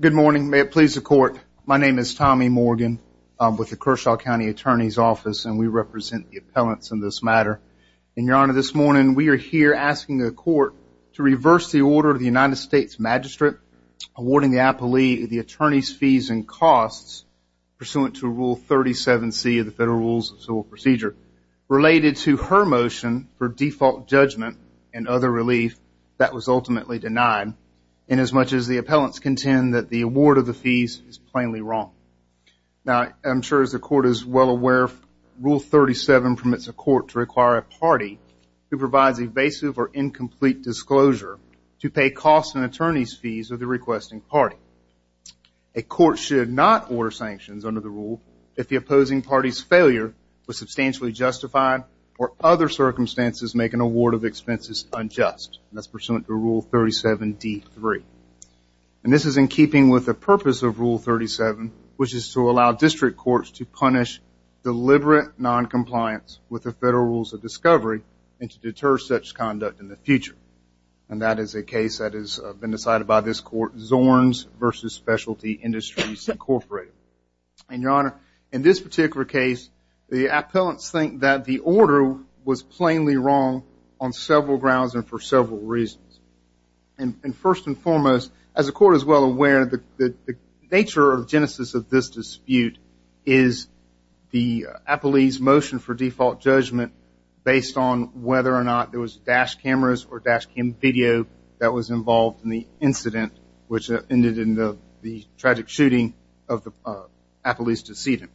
Good morning. May it please the court. My name is Tommy Morgan. I'm with the Kershaw County Attorney's Office and we represent the appellants in this matter. And your honor, this morning we are here asking the court to reverse the order of the United States Magistrate awarding the appellee the attorney's fees and costs pursuant to Rule 37C of the Federal Rules of Civil Procedure. Related to her motion for default judgment and other relief, that was ultimately denied inasmuch as the appellants contend that the award of the fees is plainly wrong. Now I'm sure as the court is well aware, Rule 37 permits a court to require a party who provides evasive or incomplete disclosure to pay costs and attorney's fees of the requesting party. A court should not order sanctions under the circumstances make an award of expenses unjust. That's pursuant to Rule 37D-3. And this is in keeping with the purpose of Rule 37, which is to allow district courts to punish deliberate non-compliance with the Federal Rules of Discovery and to deter such conduct in the future. And that is a case that has been decided by this court, Zorns versus Specialty Industries Incorporated. And in this particular case, the appellants think that the order was plainly wrong on several grounds and for several reasons. And first and foremost, as the court is well aware, the nature of the genesis of this dispute is the appellee's motion for default judgment based on whether or not there was dash cameras or dash cam video that was involved in the incident, which ended in the tragic shooting of the appellee's decedent.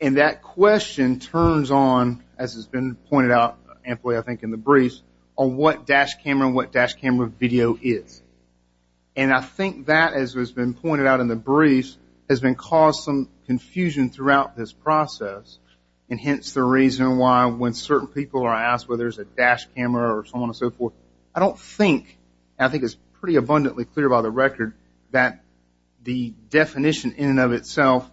And that question turns on, as has been pointed out, I think, in the briefs, on what dash camera and what dash camera video is. And I think that, as has been pointed out in the briefs, has been causing some confusion throughout this process, and hence the reason why when certain people are asked whether there's a dash camera or so on and so forth, I think it's a good record that the definition in and of itself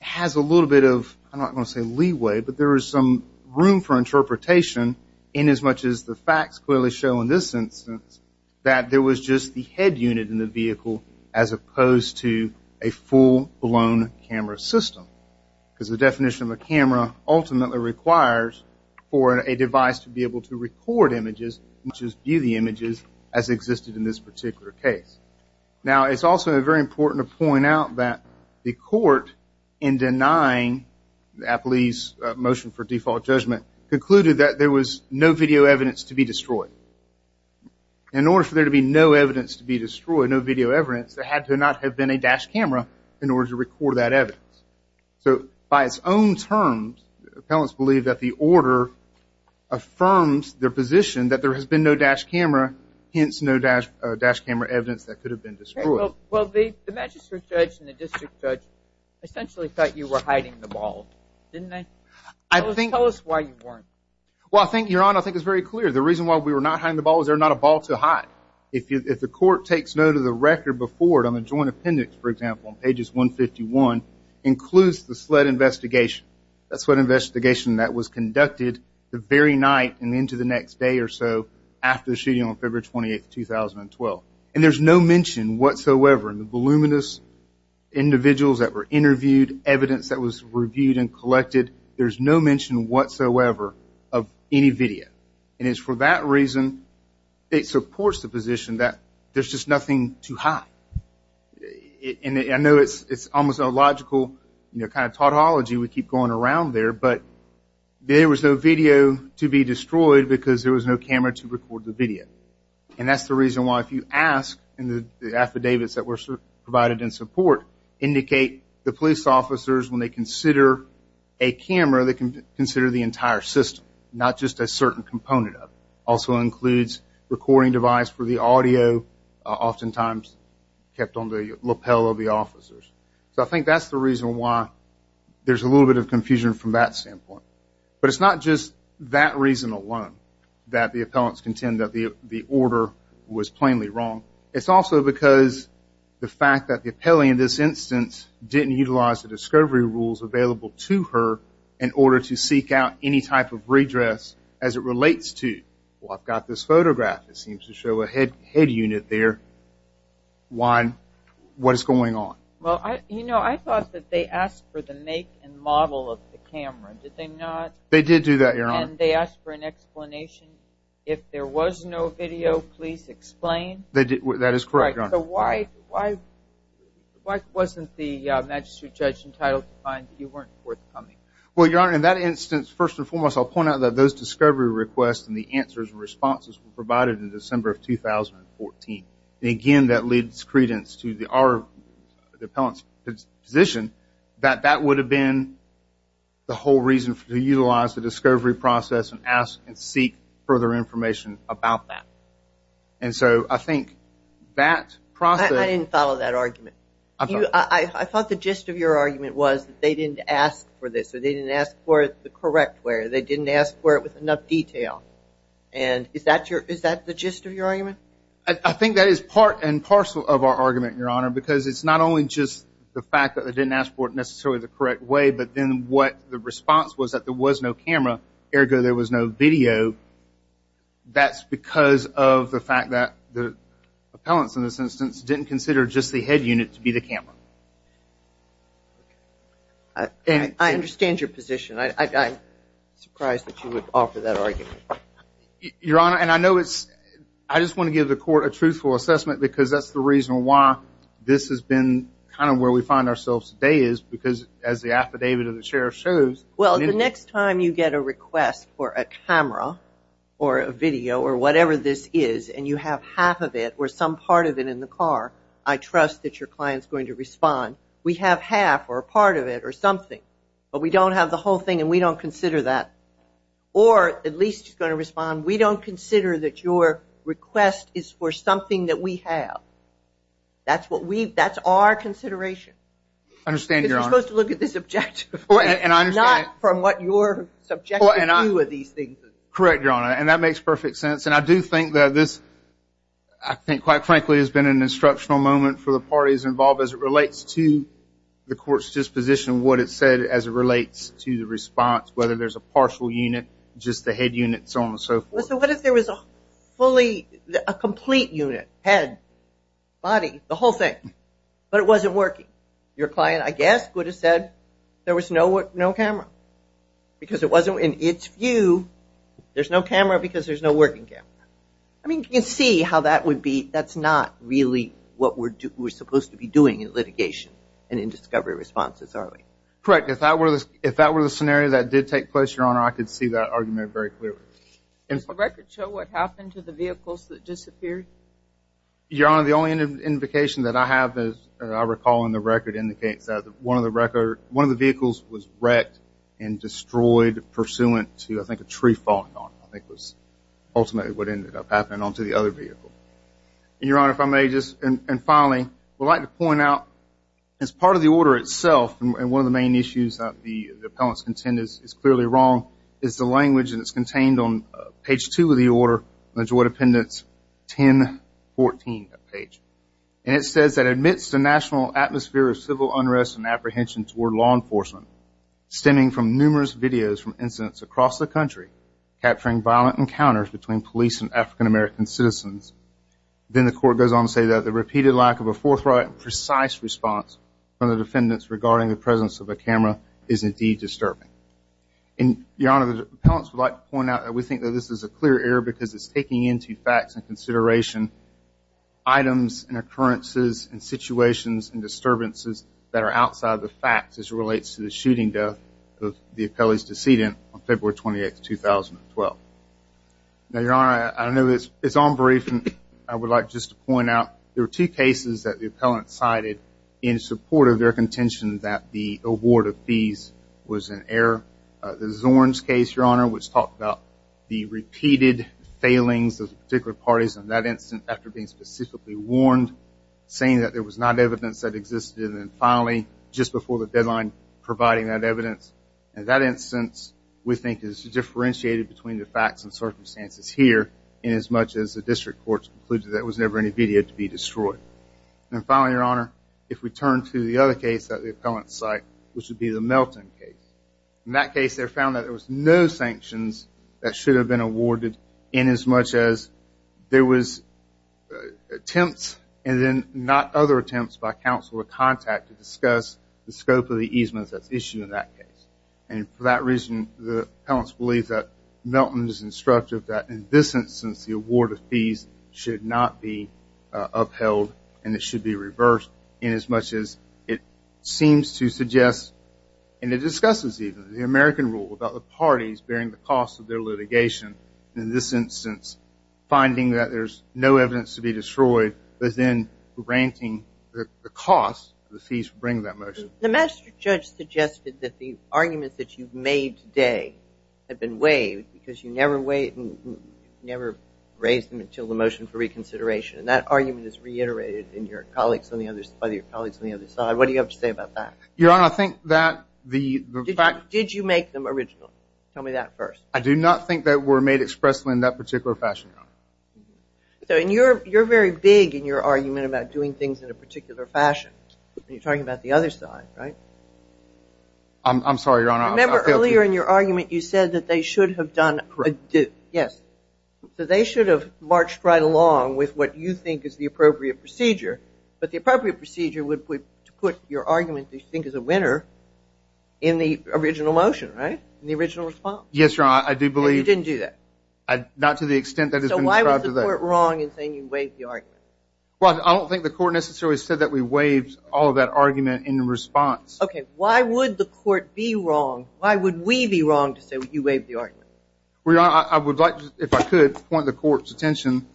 has a little bit of, I don't want to say leeway, but there is some room for interpretation inasmuch as the facts clearly show in this instance that there was just the head unit in the vehicle as opposed to a full-blown camera system. Because the definition of a camera ultimately requires for a device to be able to record images, not just view the images as existed in this particular case. Now, it's also very important to point out that the court, in denying the appellee's motion for default judgment, concluded that there was no video evidence to be destroyed. In order for there to be no evidence to be destroyed, no video evidence, there had to not have been a dash camera in order to record that evidence. So by its own terms, the appellants believe that the order affirms their position that there has been no dash camera, hence no evidence that could have been destroyed. Well, the magistrate judge and the district judge essentially thought you were hiding the ball. Didn't they? I think... Tell us why you weren't. Well, I think, Your Honor, I think it's very clear. The reason why we were not hiding the ball is they're not a ball to hide. If the court takes note of the record before it on the joint appendix, for example, on pages 151, includes the sled investigation. That's what investigation that was conducted the very night and into the next day or so after the 28th, 2012. And there's no mention whatsoever in the voluminous individuals that were interviewed, evidence that was reviewed and collected, there's no mention whatsoever of any video. And it's for that reason, it supports the position that there's just nothing to hide. And I know it's almost illogical, you know, kind of tautology, we keep going around there, but there was no video to be destroyed because there was no camera to record the video. And that's the reason why if you ask, and the affidavits that were provided in support indicate the police officers, when they consider a camera, they consider the entire system, not just a certain component of it. Also includes recording device for the audio, oftentimes kept on the lapel of the officers. So I think that's the reason why there's a little bit of confusion from that standpoint. But it's not just that reason alone that the appellants contend that the order was plainly wrong. It's also because the fact that the appellee in this instance didn't utilize the discovery rules available to her in order to seek out any type of redress as it relates to, well, I've got this photograph, it seems to show a head unit there. Why, what is going on? Well, I, you know, I thought that they asked for the make and model of the camera. Did they not? They did do that, Your Honor. And they asked for an explanation. If there was no video, please explain. They did. That is correct, Your Honor. So why, why, why wasn't the magistrate judge entitled to find that you weren't forthcoming? Well, Your Honor, in that instance, first and foremost, I'll point out that those discovery requests and the answers and responses were provided in December of 2014. And again, that leads credence to the appellant's position that that would have been the whole reason to utilize the discovery process and ask and seek further information about that. And so I think that process. I didn't follow that argument. I thought the gist of your argument was that they didn't ask for this or they didn't ask for it the correct way or they didn't ask for it with enough detail. And is that your, is that the gist of your argument? I think that is part and because it's not only just the fact that they didn't ask for it necessarily the correct way, but then what the response was that there was no camera, ergo, there was no video. That's because of the fact that the appellants in this instance didn't consider just the head unit to be the camera. I understand your position. I'm surprised that you would offer that argument. Your Honor, and I know it's, I just want to give the court a truthful assessment because that's the reason why this has been kind of where we find ourselves today is because as the affidavit of the sheriff shows. Well, the next time you get a request for a camera or a video or whatever this is and you have half of it or some part of it in the car, I trust that your client is going to respond. We have half or a part of it or something, but we don't have the whole thing and we don't consider that. Or at least he's going to respond, we don't consider that your request is for something that we have. That's what we, that's our consideration. I understand your Honor. Because we're supposed to look at this objective, not from what your subjective view of these things is. Correct, your Honor, and that makes perfect sense and I do think that this, I think quite frankly has been an instructional moment for the parties involved as it relates to the court's disposition, what it said as it relates to the response, whether there's a partial unit, just the head unit, so on and so forth. So what if there was a fully, a complete unit, head, body, the whole thing, but it wasn't working? Your client, I guess, would have said there was no camera. Because it wasn't, in its view, there's no camera because there's no working camera. I mean, you can see how that would be, that's not really what we're supposed to be doing in litigation and in discovery responses, are we? Correct, if that were the case, your Honor, I could see that argument very clearly. Does the record show what happened to the vehicles that disappeared? Your Honor, the only indication that I have is, I recall in the record, indicates that one of the record, one of the vehicles was wrecked and destroyed pursuant to, I think, a tree falling on it. I think it was ultimately what ended up happening onto the other vehicle. Your Honor, if I may just, and finally, I would like to point out, as part of the order itself, and one of the main issues that the appellants contend is clearly wrong, is the language that's contained on page two of the order, Majority Appendix 1014, that page. And it says that, amidst a national atmosphere of civil unrest and apprehension toward law enforcement, stemming from numerous videos from incidents across the country, capturing violent encounters between police and African-American citizens, then the court goes on to say that the repeated lack of a forthright, precise response from the defendants regarding the presence of a camera is indeed disturbing. And, Your Honor, the appellants would like to point out that we think that this is a clear error because it's taking into facts and consideration items and occurrences and situations and disturbances that are outside the facts as it relates to the shooting death of the appellee's decedent on February 28th, 2012. Now, Your Honor, I know it's unbrief, and I would like just to point out, there were two cases that the award of fees was an error. The Zorns case, Your Honor, which talked about the repeated failings of particular parties in that instance after being specifically warned, saying that there was not evidence that existed, and then finally, just before the deadline, providing that evidence. In that instance, we think it's differentiated between the facts and circumstances here, inasmuch as the district courts concluded that there was never any video to be destroyed. And then, there was another case that the district courts found that there was no sanctions that should have been awarded inasmuch as there was attempts and then not other attempts by counsel or contact to discuss the scope of the easements that's issued in that case. And for that reason, the appellants believe that Milton is instructive that, in this instance, the award of fees should not be discussed. And it discusses, even, the American rule about the parties bearing the cost of their litigation. In this instance, finding that there's no evidence to be destroyed, but then granting the cost of the fees for bringing that motion. The master judge suggested that the arguments that you've made today have been waived because you never raised them until the motion for reconsideration. And that argument is reiterated by your colleagues on the other side. What do you have to say about that? Your Honor, I think that the fact... Did you make them originally? Tell me that first. I do not think that were made expressly in that particular fashion, Your Honor. So, and you're very big in your argument about doing things in a particular fashion. And you're talking about the other side, right? I'm sorry, Your Honor. I failed to... Remember earlier in your argument, you said that they should have done... Correct. Yes. So, they should have marched right along with what you think is the appropriate procedure. But the appropriate procedure would put your argument that you think is a winner in the original motion, right? In the original response. Yes, Your Honor. I do believe... And you didn't do that? Not to the extent that it's been described today. So, why was the court wrong in saying you waived the argument? Well, I don't think the court necessarily said that we waived all of that argument in response. Okay. Why would the court be wrong? Why would we be wrong to say that you waived the argument? Well, Your Honor, I would like to, if I could, point the court's attention.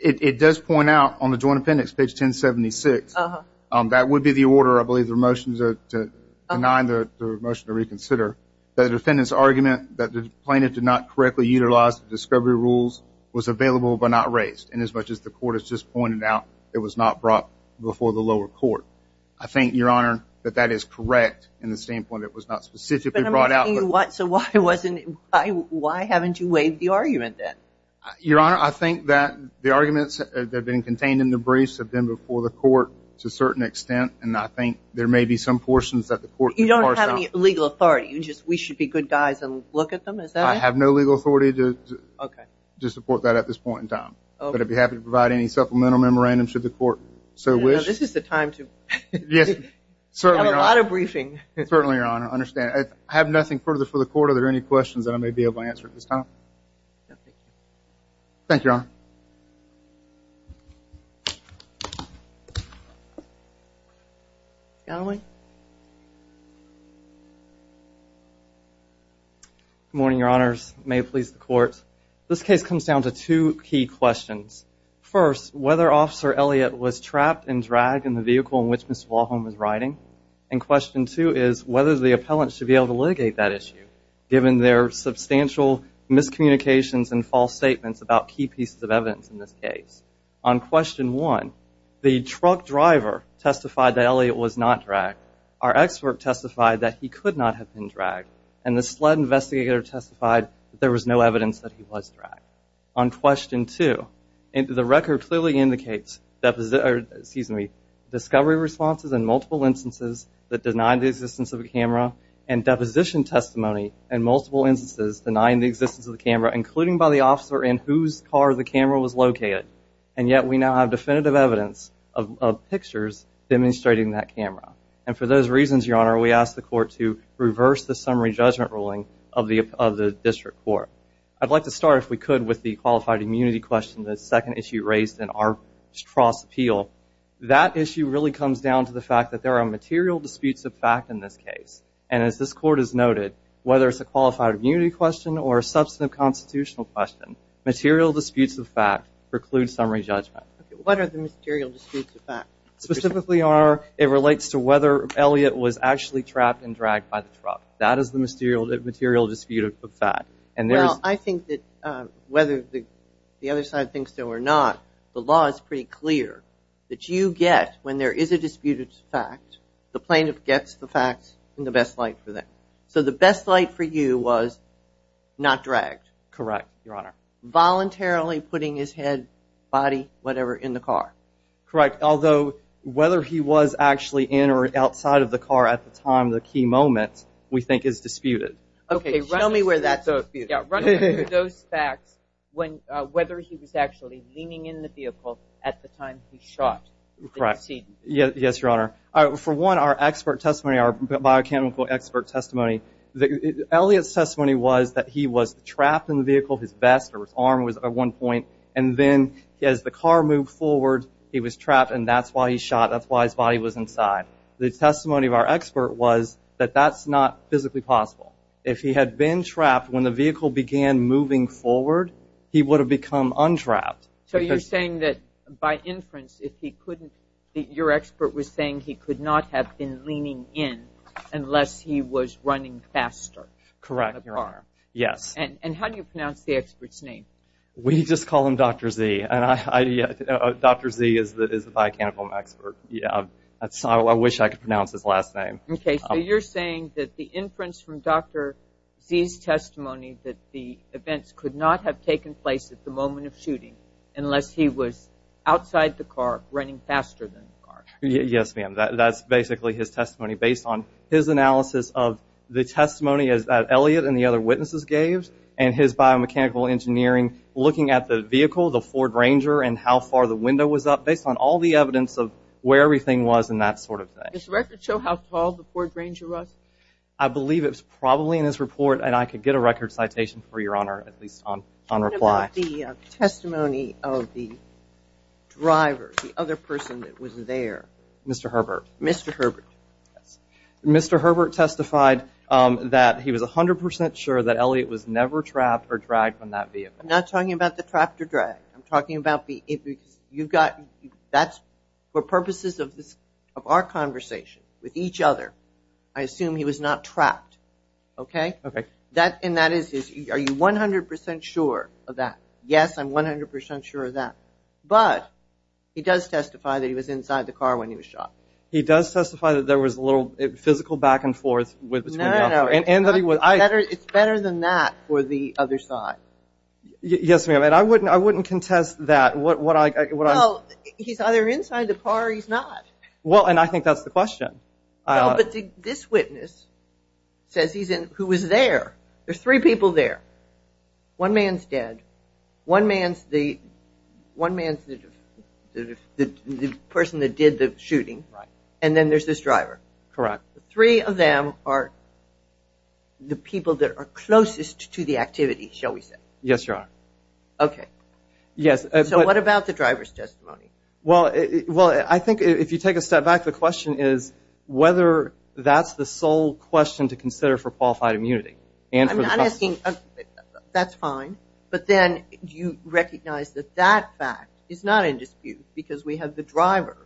It does point out on the joint appendix, page 1076, that would be the order, I believe the motions are to deny the motion to reconsider, that the defendant's argument that the plaintiff did not correctly utilize the discovery rules was available but not raised. And as much as the court has just pointed out, it was not brought before the lower court. I think, Your Honor, that that is correct in the standpoint that it was not specifically brought out. But I'm asking you what... So, why wasn't... Why haven't you waived the argument then? Your Honor, I think that the arguments that have been contained in the briefs have been before the court to a certain extent, and I think there may be some portions that the court... You don't have any legal authority. You just... We should be good guys and look at them, is that it? I have no legal authority to... Okay. ...to support that at this point in time. Okay. But I'd be happy to provide any supplemental memorandums should the court so wish. Now, this is the time to... Yes, certainly, Your Honor. ...have a lot of briefing. Certainly, Your Honor. I understand. I have nothing further for the court. Are there any questions that I may be able to answer at this time? No, thank you. Thank you, Your Honor. Scanlon. Good morning, Your Honors. May it please the court. This case comes down to two key questions. First, whether Officer Elliott was trapped and dragged in the vehicle in which Ms. Wahlholm was riding. And question two is whether the false statements about key pieces of evidence in this case. On question one, the truck driver testified that Elliott was not dragged. Our expert testified that he could not have been dragged. And the sled investigator testified that there was no evidence that he was dragged. On question two, the record clearly indicates... Excuse me. Discovery responses in multiple instances that denied the existence of a camera and deposition testimony in multiple instances denying the existence of the camera, including by the officer in whose car the camera was located. And yet we now have definitive evidence of pictures demonstrating that camera. And for those reasons, Your Honor, we ask the court to reverse the summary judgment ruling of the district court. I'd like to start, if we could, with the qualified immunity question, the second issue raised in our Stross appeal. That issue really comes down to the fact that there are material disputes of fact in this case. And as this court has noted, whether it's a qualified immunity question or a substantive constitutional question, material disputes of fact preclude summary judgment. What are the material disputes of fact? Specifically, Your Honor, it relates to whether Elliott was actually trapped and dragged by the truck. That is the material dispute of fact. And there's... Well, I think that whether the other side thinks so or not, the law is pretty clear that you get, when there is a dispute of fact, the best light for you was not dragged. Correct, Your Honor. Voluntarily putting his head, body, whatever, in the car. Correct. Although, whether he was actually in or outside of the car at the time, the key moment, we think is disputed. Okay, show me where that's disputed. Those facts, whether he was actually leaning in the vehicle at the time he shot. Correct. Yes, Your Honor. For one, our expert testimony, Elliott's testimony was that he was trapped in the vehicle, his vest or his arm was at one point, and then as the car moved forward, he was trapped and that's why he shot, that's why his body was inside. The testimony of our expert was that that's not physically possible. If he had been trapped when the vehicle began moving forward, he would have become untrapped. So you're saying that by inference, if he couldn't, your expert was saying he could not have been leaning in unless he was running faster. Correct, Your Honor. Yes. And how do you pronounce the expert's name? We just call him Dr. Z. Dr. Z is the biochemical expert. I wish I could pronounce his last name. Okay, so you're saying that the inference from Dr. Z's testimony that the events could not have taken place at the moment of shooting unless he was outside the car running faster than the car. Yes, ma'am. That's basically his testimony based on his analysis of the testimony that Elliott and the other witnesses gave and his biomechanical engineering looking at the vehicle, the Ford Ranger, and how far the window was up based on all the evidence of where everything was and that sort of thing. Does the record show how tall the Ford Ranger was? I believe it's probably in his report and I could get a record citation for Your Honor at least on reply. What about the testimony of the driver, the other person that was there? Mr. Herbert. Mr. Herbert. Mr. Herbert testified that he was a hundred percent sure that Elliott was never trapped or dragged from that vehicle. I'm not talking about the trapped or dragged. I'm talking about the, you've got, that's for purposes of this, of our conversation with each other, I assume he was not trapped, okay? Okay. That, and that is, are you 100% sure of that? Yes, I'm 100% sure of that. But, he does testify that he was inside the car when he was shot. He does testify that there was a little physical back and forth. No, no. It's better than that for the other side. Yes, ma'am, and I wouldn't, I wouldn't contest that. Well, he's either inside the car or he's not. Well, and I think that's the question. No, but this witness says he's in, who was there. There's three people there. One man's dead. One man's the, one man's the person that did the shooting. Right. And then there's this driver. Correct. Three of them are the people that are closest to the activity, shall we say. Yes, you are. Okay. Yes. So what about the driver's testimony? Well, well, I think if you take a step back, the question is whether that's the sole question to consider for qualified immunity. I'm not asking, that's fine, but then do you recognize that that fact is not in dispute because we have the driver,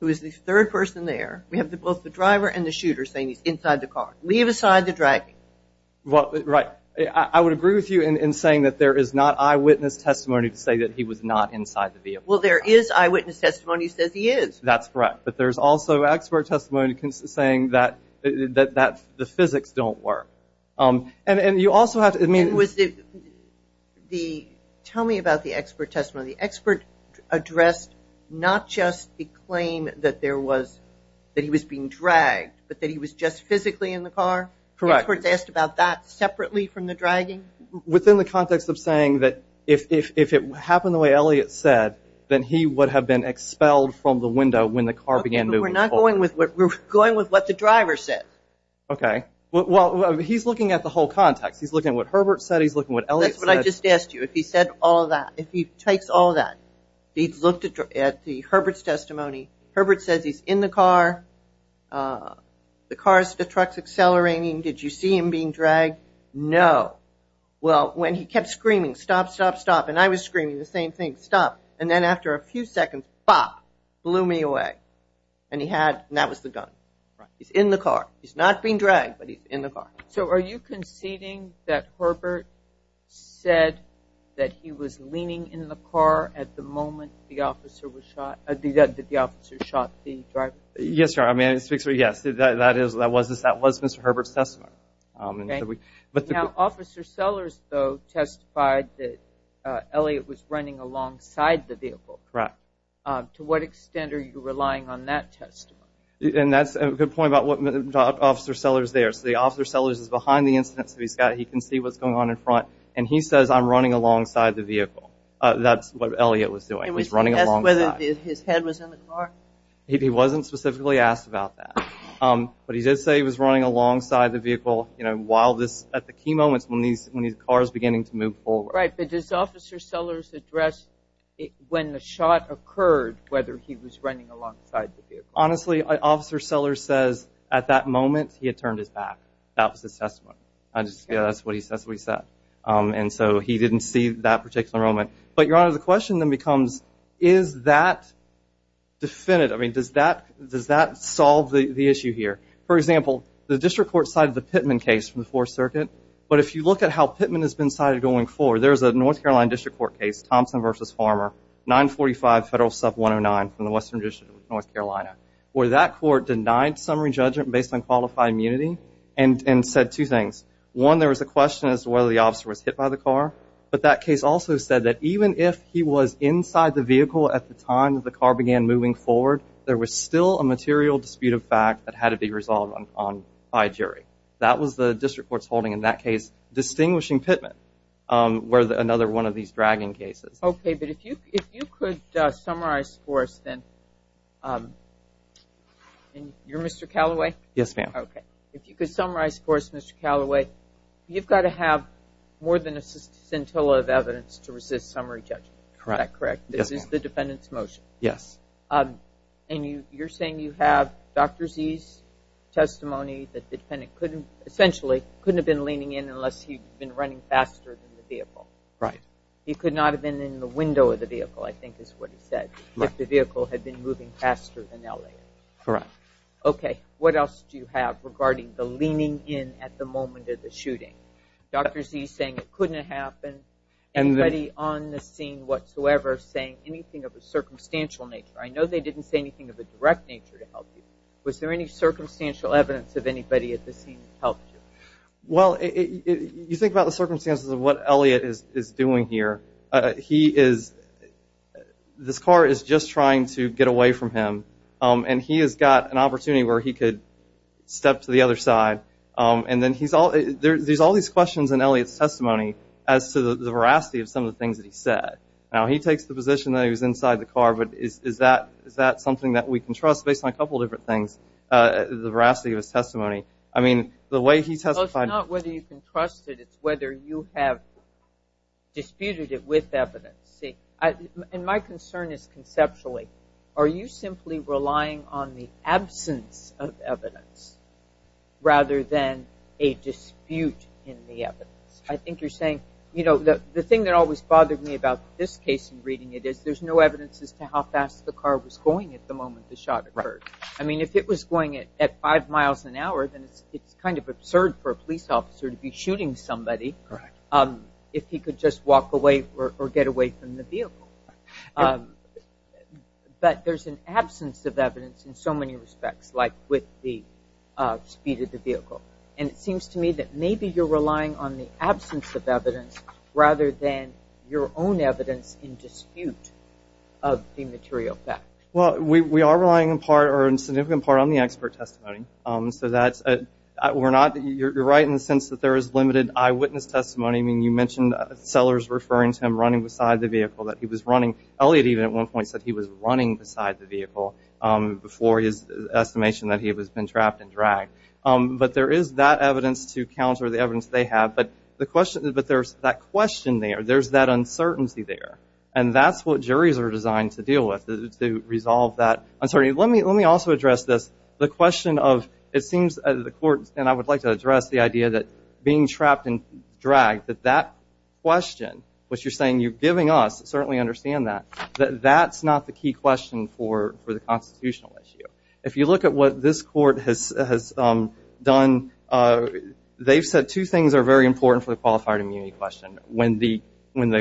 who is the third person there. We have both the driver and the shooter saying he's inside the car. Leave aside the dragging. Well, right. I would agree with you in saying that there is not eyewitness testimony to say that he was not inside the vehicle. Well, there is eyewitness testimony that says he is. That's correct, but there's also expert testimony saying that, that the physics don't work. And you also have to, I mean. And was the, the, tell me about the expert testimony. The expert addressed not just the claim that there was, that he was being dragged, but that he was just physically in the car? Correct. The expert's asked about that separately from the dragging? Within the context of saying that if, if, if it happened the way Elliot said, then he would have been expelled from the window when the car began moving forward. Okay, but we're not going with what, we're going with what the driver said. Okay. Well, he's looking at the whole context. He's looking at what Herbert said. He's looking at what Elliot said. That's what I just asked you. If he said all that, if he takes all that, he looked at the Herbert's testimony. Herbert says he's in the car. The car's, the truck's accelerating. Did you see him being dragged? No. Well, when he kept screaming, stop, stop, stop. And I was screaming the same thing. Stop. And then after a few seconds, bop, blew me away. And he had, and that was the gun. Right. He's in the car. He's not being dragged, but he's in the car. So are you conceding that Herbert said that he was leaning in the car at the moment the officer was shot, that the officer shot the driver? Yes, Your Honor. I mean, it speaks for, yes, that is, that was, that was Mr. Herbert's testimony. Okay. Now, Officer Sellers, though, testified that Elliot was running alongside the vehicle. Correct. To what extent are you relying on that testimony? And that's a good point about what, Officer Sellers there. So the Officer Sellers is behind the incident, so he's got, he can see what's going on in front. And he says, I'm running alongside the vehicle. That's what Elliot was doing. He's running alongside. And was he asked whether his head was in the car? He wasn't specifically asked about that. But he did say he was running alongside the vehicle, you know, while this, at the key moments when these, when these cars beginning to move forward. Right. But does Officer Sellers address when the shot occurred, whether he was running alongside the vehicle? Honestly, Officer Sellers says at that moment he had turned his back. That was his testimony. That's what he said. And so he didn't see that particular moment. But, Your Honor, the question then becomes, is that definitive? I mean, does that, does that solve the issue here? For example, the District Court cited the Pittman case from the Fourth Circuit. But if you look at how Pittman has been cited going forward, there's a North Carolina District Court case, Thompson v. Farmer, 945 Federal Sub 109 from the Western District of North Carolina. Where that court denied summary judgment based on qualified immunity and said two things. One, there was a question as to whether the officer was hit by the car. But that case also said that even if he was inside the vehicle at the time that the car began moving forward, there was still a material dispute of fact that had to be resolved by a jury. That was the District Court's holding in that case, distinguishing Pittman, where another one of these dragging cases. Okay, but if you could summarize for us then. You're Mr. Callaway? Yes, ma'am. Okay. If you could summarize for us, Mr. Callaway, you've got to have more than a scintilla of evidence to resist summary judgment. Correct. Is that correct? Yes, ma'am. This is the defendant's motion. Yes. And you're saying you have Dr. Z's testimony that the defendant essentially couldn't have been leaning in unless he'd been running faster than the vehicle. Right. He could not have been in the window of the vehicle, I think is what he said, if the vehicle had been moving faster than L.A. Correct. Okay. What else do you have regarding the leaning in at the moment of the shooting? Dr. Z saying it couldn't have happened. Anybody on the scene whatsoever saying anything of a circumstantial nature? I know they didn't say anything of a direct nature to help you. Was there any circumstantial evidence of anybody at the scene that helped you? Well, you think about the circumstances of what Elliot is doing here. He is – this car is just trying to get away from him. And he has got an opportunity where he could step to the other side. And then he's – there's all these questions in Elliot's testimony as to the veracity of some of the things that he said. Now, he takes the position that he was inside the car, but is that something that we can trust based on a couple of different things, the veracity of his testimony? I mean, the way he testified – Well, it's not whether you can trust it. It's whether you have disputed it with evidence. And my concern is conceptually. Are you simply relying on the absence of evidence rather than a dispute in the evidence? I think you're saying – you know, the thing that always bothered me about this case and reading it is there's no evidence as to how fast the car was going at the moment the shot occurred. I mean, if it was going at five miles an hour, then it's kind of absurd for a police officer to be shooting somebody. Correct. If he could just walk away or get away from the vehicle. But there's an absence of evidence in so many respects, like with the speed of the vehicle. And it seems to me that maybe you're relying on the absence of evidence rather than your own evidence in dispute of the material fact. Well, we are relying in part or in significant part on the expert testimony. So that's – we're not – you're right in the sense that there is limited eyewitness testimony. I mean, you mentioned Sellers referring to him running beside the vehicle, that he was running. Elliott even at one point said he was running beside the vehicle before his estimation that he had been trapped and dragged. But there is that evidence to counter the evidence they have. But the question – but there's that question there. There's that uncertainty there. And that's what juries are designed to deal with, to resolve that. I'm sorry. Let me also address this. The question of – it seems the court – and I would like to address the idea that being trapped and dragged, that that question, which you're saying you're giving us, certainly understand that, that that's not the key question for the constitutional issue. If you look at what this court has done, they've said two things are very important for the qualified immunity question. When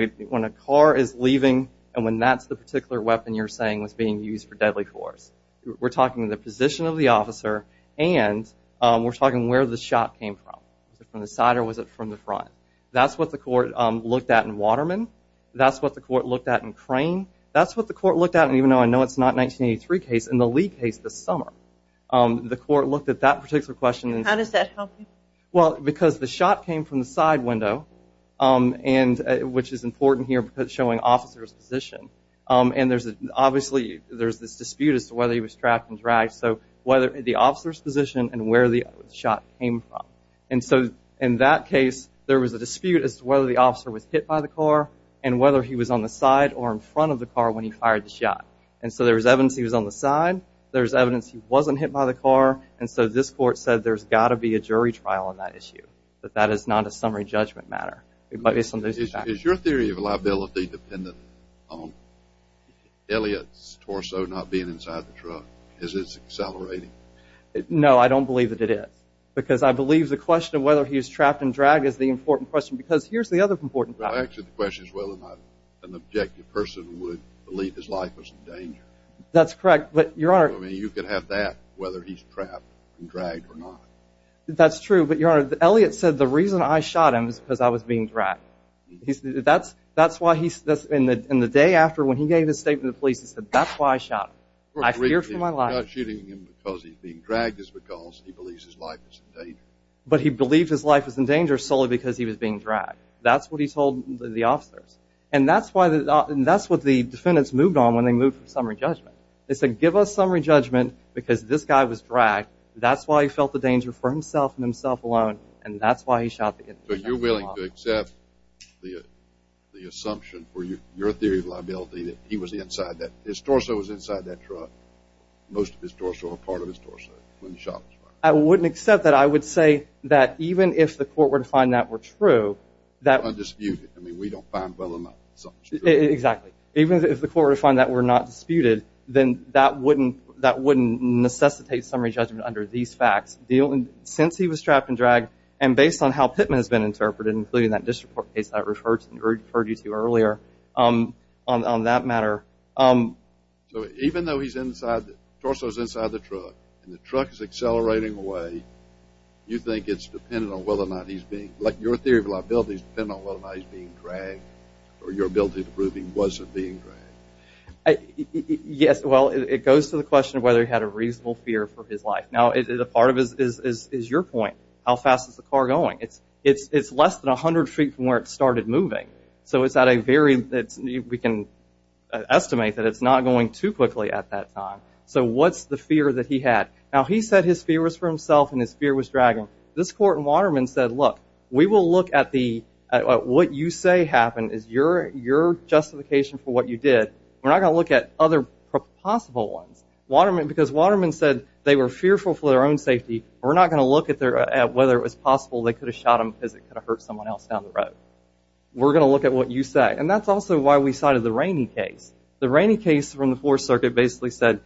a car is leaving and when that's the particular weapon you're saying was being used for deadly force, we're talking the position of the officer and we're talking where the shot came from. Was it from the side or was it from the front? That's what the court looked at in Waterman. That's what the court looked at in Crane. That's what the court looked at, and even though I know it's not 1983 case, in the Lee case this summer, the court looked at that particular question. How does that help you? Well, because the shot came from the side window, which is important here because it's showing officer's position. Obviously, there's this dispute as to whether he was trapped and dragged, so the officer's position and where the shot came from. In that case, there was a dispute as to whether the officer was hit by the car and whether he was on the side or in front of the car when he fired the shot. There was evidence he was on the side. There was evidence he wasn't hit by the car. And so this court said there's got to be a jury trial on that issue, that that is not a summary judgment matter. Is your theory of liability dependent on Elliot's torso not being inside the truck? Is it accelerating? No, I don't believe that it is, because I believe the question of whether he was trapped and dragged is the important question because here's the other important question. Well, actually, the question is whether or not an objective person would believe his life was in danger. That's correct. I mean, you could have that, whether he's trapped and dragged or not. That's true, but, Your Honor, Elliot said, the reason I shot him is because I was being dragged. And the day after, when he gave his statement to the police, he said, that's why I shot him. I feared for my life. He's not shooting him because he's being dragged. It's because he believes his life is in danger. But he believed his life was in danger solely because he was being dragged. That's what he told the officers. And that's what the defendants moved on when they moved from summary judgment. They said, give us summary judgment because this guy was dragged. That's why he felt the danger for himself and himself alone. And that's why he shot the guy. So you're willing to accept the assumption for your theory of liability that he was inside that, his torso was inside that truck. Most of his torso or part of his torso when the shot was fired. I wouldn't accept that. I would say that even if the court were to find that were true, that Undisputed. I mean, we don't find well enough that something's true. Exactly. Even if the court were to find that were not disputed, then that wouldn't necessitate summary judgment under these facts. Since he was trapped and dragged and based on how Pittman has been interpreted, including that disreport case I referred you to earlier on that matter. So even though he's inside, the torso is inside the truck, and the truck is accelerating away, you think it's dependent on whether or not he's being, like your theory of liability is dependent on whether or not he's being dragged or your ability to prove he wasn't being dragged. Yes. Well, it goes to the question of whether he had a reasonable fear for his life. Now, part of it is your point. How fast is the car going? It's less than 100 feet from where it started moving. So it's at a very, we can estimate that it's not going too quickly at that time. So what's the fear that he had? Now, he said his fear was for himself and his fear was dragging. Now, this court in Waterman said, look, we will look at what you say happened as your justification for what you did. We're not going to look at other possible ones. Because Waterman said they were fearful for their own safety. We're not going to look at whether it was possible they could have shot him because it could have hurt someone else down the road. We're going to look at what you say. And that's also why we cited the Rainey case. The Rainey case from the Fourth Circuit basically said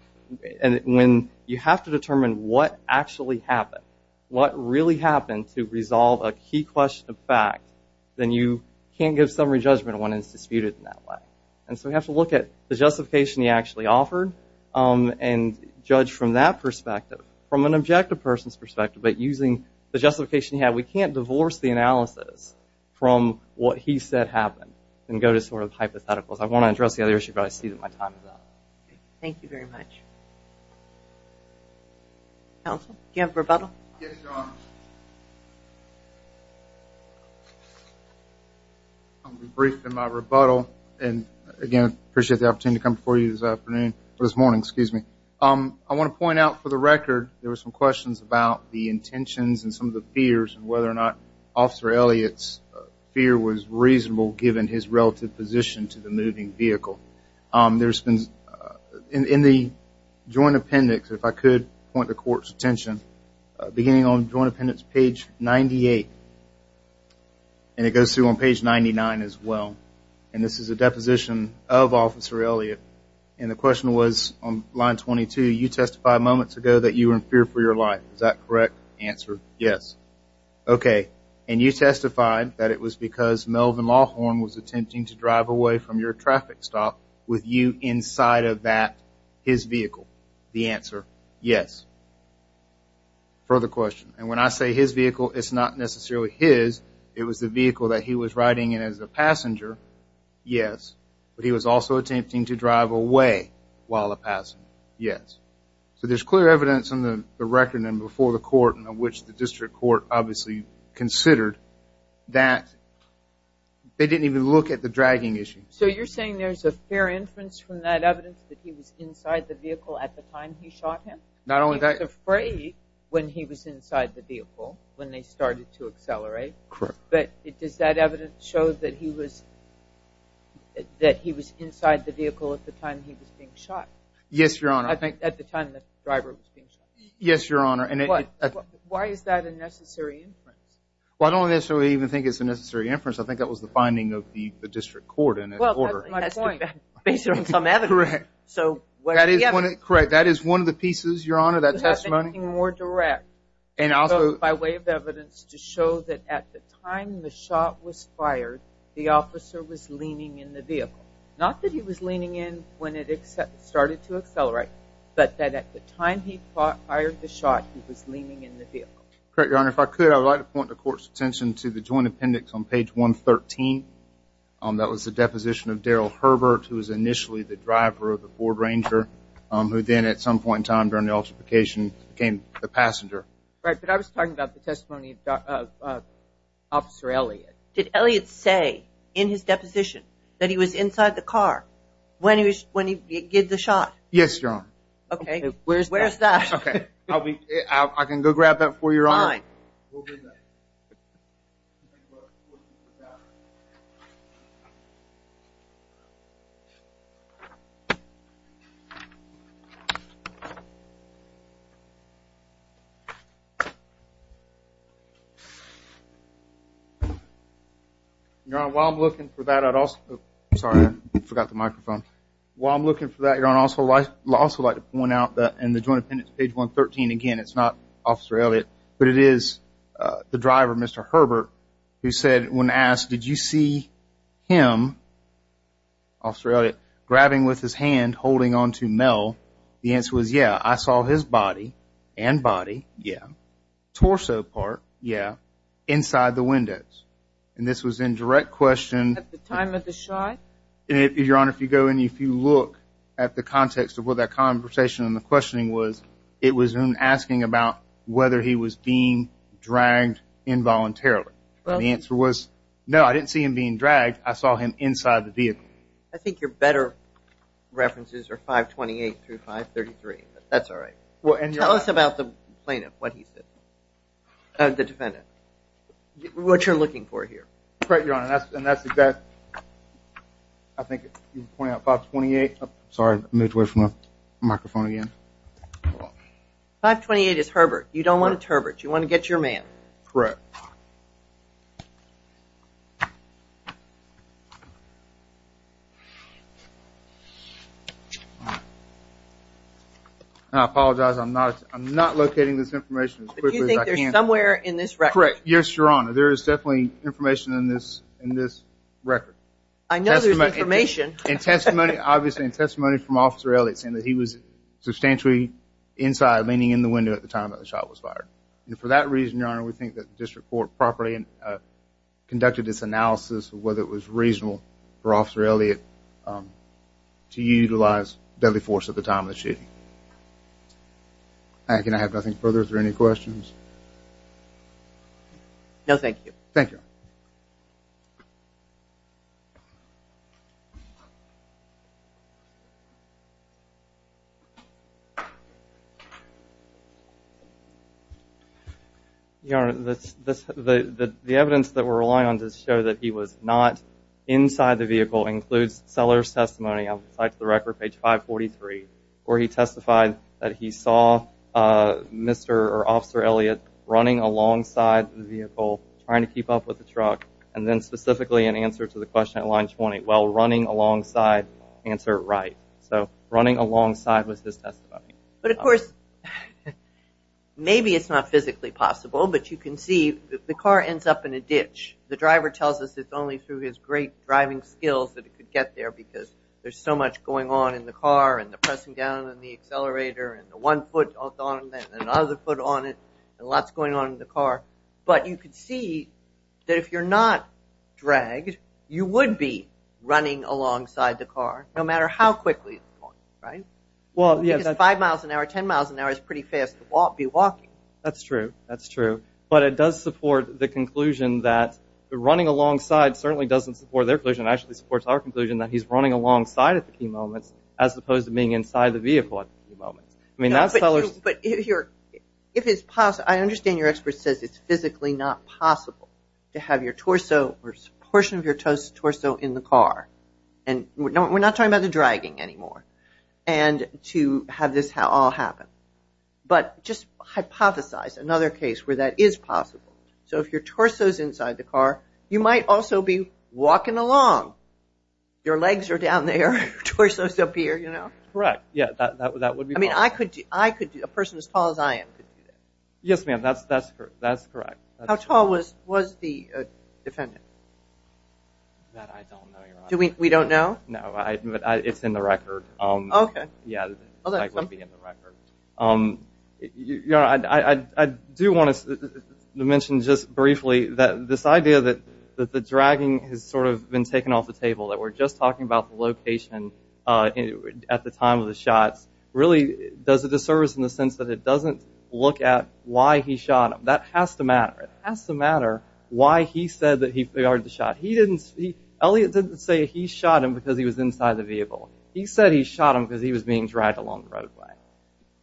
when you have to determine what actually happened, what really happened to resolve a key question of fact, then you can't give summary judgment when it's disputed in that way. And so we have to look at the justification he actually offered and judge from that perspective, from an objective person's perspective, but using the justification he had. We can't divorce the analysis from what he said happened and go to sort of hypotheticals. I want to address the other issue, but I see that my time is up. Thank you very much. Counsel, do you have a rebuttal? Yes, Your Honor. I'll be brief in my rebuttal. Again, I appreciate the opportunity to come before you this morning. I want to point out, for the record, there were some questions about the intentions and some of the fears and whether or not Officer Elliott's fear was reasonable given his relative position to the moving vehicle. In the joint appendix, if I could point the Court's attention, beginning on joint appendix page 98, and it goes through on page 99 as well, and this is a deposition of Officer Elliott, and the question was on line 22, you testified moments ago that you were in fear for your life. Is that correct answer? Yes. Okay. And you testified that it was because Melvin Lawhorn was attempting to drive away from your traffic stop with you inside of that, his vehicle. The answer, yes. Further question. And when I say his vehicle, it's not necessarily his. It was the vehicle that he was riding in as a passenger. Yes. But he was also attempting to drive away while a passenger. Yes. So there's clear evidence in the record and before the Court, in which the District Court obviously considered that they didn't even look at the dragging issue. So you're saying there's a fair inference from that evidence that he was inside the vehicle at the time he shot him? Not only that. He was afraid when he was inside the vehicle when they started to accelerate. Correct. But does that evidence show that he was inside the vehicle at the time he was being shot? Yes, Your Honor. At the time the driver was being shot? Yes, Your Honor. Why is that a necessary inference? Well, I don't necessarily even think it's a necessary inference. I think that was the finding of the District Court in that order. Well, that's my point. Based on some evidence. Correct. So where's the evidence? That is one of the pieces, Your Honor, that testimony. Do you have anything more direct by way of evidence to show that at the time the shot was fired, the officer was leaning in the vehicle? Not that he was leaning in when it started to accelerate, but that at the time he fired the shot, he was leaning in the vehicle. Correct, Your Honor. If I could, I would like to point the Court's attention to the joint appendix on page 113. That was the deposition of Daryl Herbert, who was initially the driver of the Ford Ranger, who then at some point in time during the altercation became the passenger. Right. But I was talking about the testimony of Officer Elliott. Did Elliott say in his deposition that he was inside the car when he gave the shot? Yes, Your Honor. Okay. Where's that? Okay. I can go grab that for you, Your Honor. Fine. We'll bring that. Your Honor, while I'm looking for that, I'd also – sorry, I forgot the microphone. While I'm looking for that, Your Honor, I'd also like to point out that in the joint appendix on page 113, again, it's not Officer Elliott, but it is the driver, Mr. Herbert, who said when asked, did you see him, Officer Elliott, grabbing with his hand, holding on to Mel? The answer was, yeah, I saw his body and body, yeah, torso part, yeah, inside the windows. And this was in direct question. At the time of the shot? Your Honor, if you go and if you look at the context of what that conversation and the questioning was, it was him asking about whether he was being dragged involuntarily. The answer was, no, I didn't see him being dragged. I saw him inside the vehicle. I think your better references are 528 through 533, but that's all right. Tell us about the plaintiff, what he said, the defendant, what you're looking for here. Correct, Your Honor, and that's exactly, I think you pointed out 528. Sorry, moved away from the microphone again. 528 is Herbert. You don't want it Herbert. You want to get your man. Correct. I apologize, I'm not locating this information as quickly as I can. Do you think there's somewhere in this record? Correct. Yes, Your Honor. There is definitely information in this record. I know there's information. And testimony, obviously, and testimony from Officer Elliott saying that he was substantially inside, leaning in the window at the time that the shot was fired. And for that reason, Your Honor, we think that the district court properly conducted its analysis of whether it was reasonable for Officer Elliott to utilize deadly force at the time of the shooting. Can I have nothing further? Is there any questions? No, thank you. Thank you. Your Honor, the evidence that we're relying on to show that he was not inside the vehicle includes Seller's testimony outside to the record, page 543, where he testified that he saw Mr. or Officer Elliott running alongside the vehicle, trying to keep up with the truck, and then specifically in answer to the question at line 20, while running alongside, answer right. So running alongside was his testimony. But, of course, maybe it's not physically possible, but you can see the car ends up in a ditch. The driver tells us it's only through his great driving skills that he could get there because there's so much going on in the car and the pressing down on the accelerator and the one foot on it and another foot on it and lots going on in the car. But you can see that if you're not dragged, you would be running alongside the car, no matter how quickly, right? Well, yeah. Because five miles an hour, ten miles an hour is pretty fast to be walking. That's true. That's true. But it does support the conclusion that running alongside certainly doesn't support their conclusion. It actually supports our conclusion that he's running alongside at the key moments as opposed to being inside the vehicle at the key moments. But if it's possible, I understand your expert says it's physically not possible to have your torso or a portion of your torso in the car, and we're not talking about the dragging anymore, and to have this all happen. But just hypothesize another case where that is possible. So if your torso is inside the car, you might also be walking along. Your legs are down there, your torso is up here, you know? Correct. Yeah, that would be possible. I mean, a person as tall as I am could do that. Yes, ma'am, that's correct. How tall was the defendant? That I don't know, Your Honor. We don't know? No, but it's in the record. Okay. Yeah, it would be in the record. Your Honor, I do want to mention just briefly that this idea that the dragging has sort of been taken off the table, that we're just talking about the location at the time of the shots really does a disservice in the sense that it doesn't look at why he shot him. That has to matter. It has to matter why he said that he fired the shot. He didn't say he shot him because he was inside the vehicle. He said he shot him because he was being dragged along the roadway.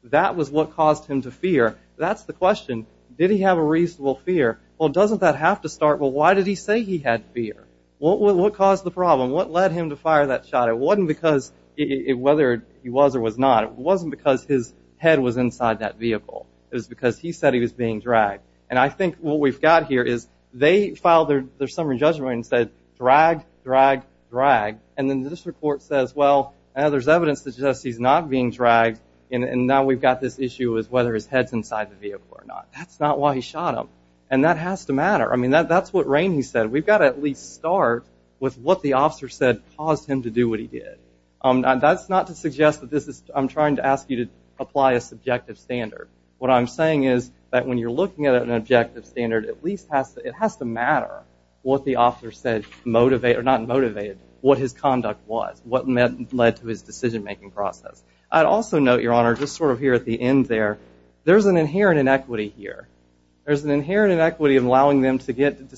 That was what caused him to fear. That's the question. Did he have a reasonable fear? Well, doesn't that have to start with why did he say he had fear? What caused the problem? What led him to fire that shot? It wasn't because whether he was or was not. It wasn't because his head was inside that vehicle. It was because he said he was being dragged. And I think what we've got here is they filed their summary judgment and said, And then this report says, well, there's evidence that suggests he's not being dragged, and now we've got this issue as whether his head's inside the vehicle or not. That's not why he shot him. And that has to matter. I mean, that's what Rainey said. We've got to at least start with what the officer said caused him to do what he did. That's not to suggest that this is I'm trying to ask you to apply a subjective standard. What I'm saying is that when you're looking at an objective standard, it has to matter what the officer said motivated, or not motivated, what his conduct was, what led to his decision-making process. I'd also note, Your Honor, just sort of here at the end there, there's an inherent inequity here. There's an inherent inequity in allowing them to get the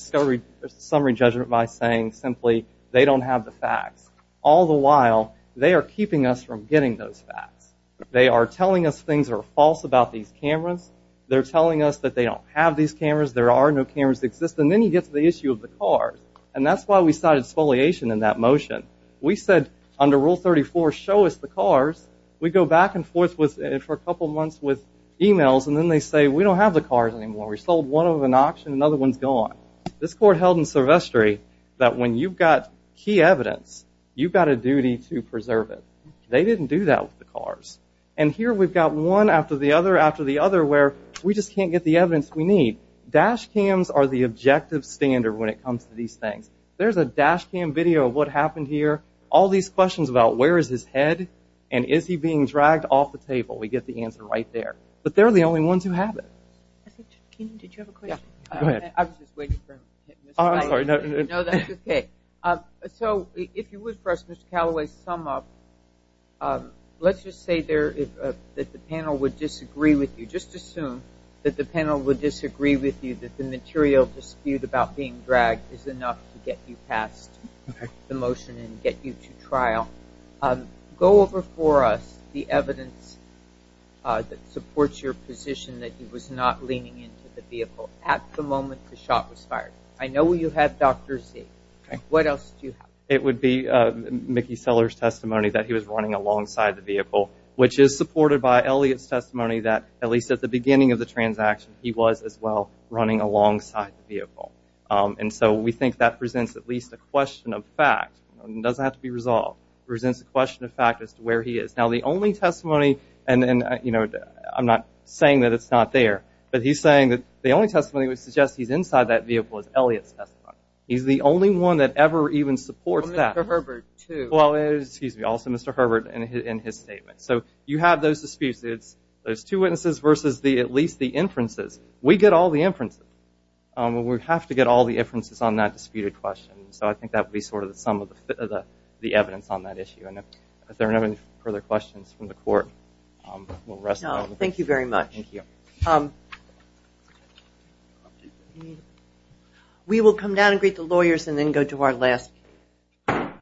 summary judgment by saying simply, they don't have the facts. All the while, they are keeping us from getting those facts. They are telling us things are false about these cameras. They're telling us that they don't have these cameras. There are no cameras that exist. And then you get to the issue of the cars. And that's why we cited spoliation in that motion. We said under Rule 34, show us the cars. We go back and forth for a couple months with e-mails, and then they say, we don't have the cars anymore. We sold one of them at an auction. Another one's gone. This court held in Silvestri that when you've got key evidence, you've got a duty to preserve it. They didn't do that with the cars. And here we've got one after the other after the other where we just can't get the evidence we need. Dash cams are the objective standard when it comes to these things. There's a dash cam video of what happened here, all these questions about where is his head, and is he being dragged off the table. We get the answer right there. But they're the only ones who have it. Kenan, did you have a question? Go ahead. I was just waiting for him. I'm sorry. No, that's okay. So if you would for us, Mr. Callaway, sum up. Let's just say that the panel would disagree with you. Just assume that the panel would disagree with you, that the material dispute about being dragged is enough to get you past the motion and get you to trial. Go over for us the evidence that supports your position that he was not leaning into the vehicle at the moment the shot was fired. I know you have Dr. Z. What else do you have? It would be Mickey Seller's testimony that he was running alongside the vehicle, which is supported by Elliott's testimony that, at least at the beginning of the transaction, he was as well running alongside the vehicle. And so we think that presents at least a question of fact. It doesn't have to be resolved. It presents a question of fact as to where he is. Now, the only testimony, and I'm not saying that it's not there, but he's saying that the only testimony that would suggest he's inside that vehicle is Elliott's testimony. He's the only one that ever even supports that. Well, Mr. Herbert, too. Well, excuse me, also Mr. Herbert in his statement. So you have those disputes. It's those two witnesses versus at least the inferences. We get all the inferences. We have to get all the inferences on that disputed question. So I think that would be sort of the sum of the evidence on that issue. And if there are no further questions from the Court, we'll rest for a moment. Thank you very much. Thank you. We will come down and greet the lawyers and then go to our last.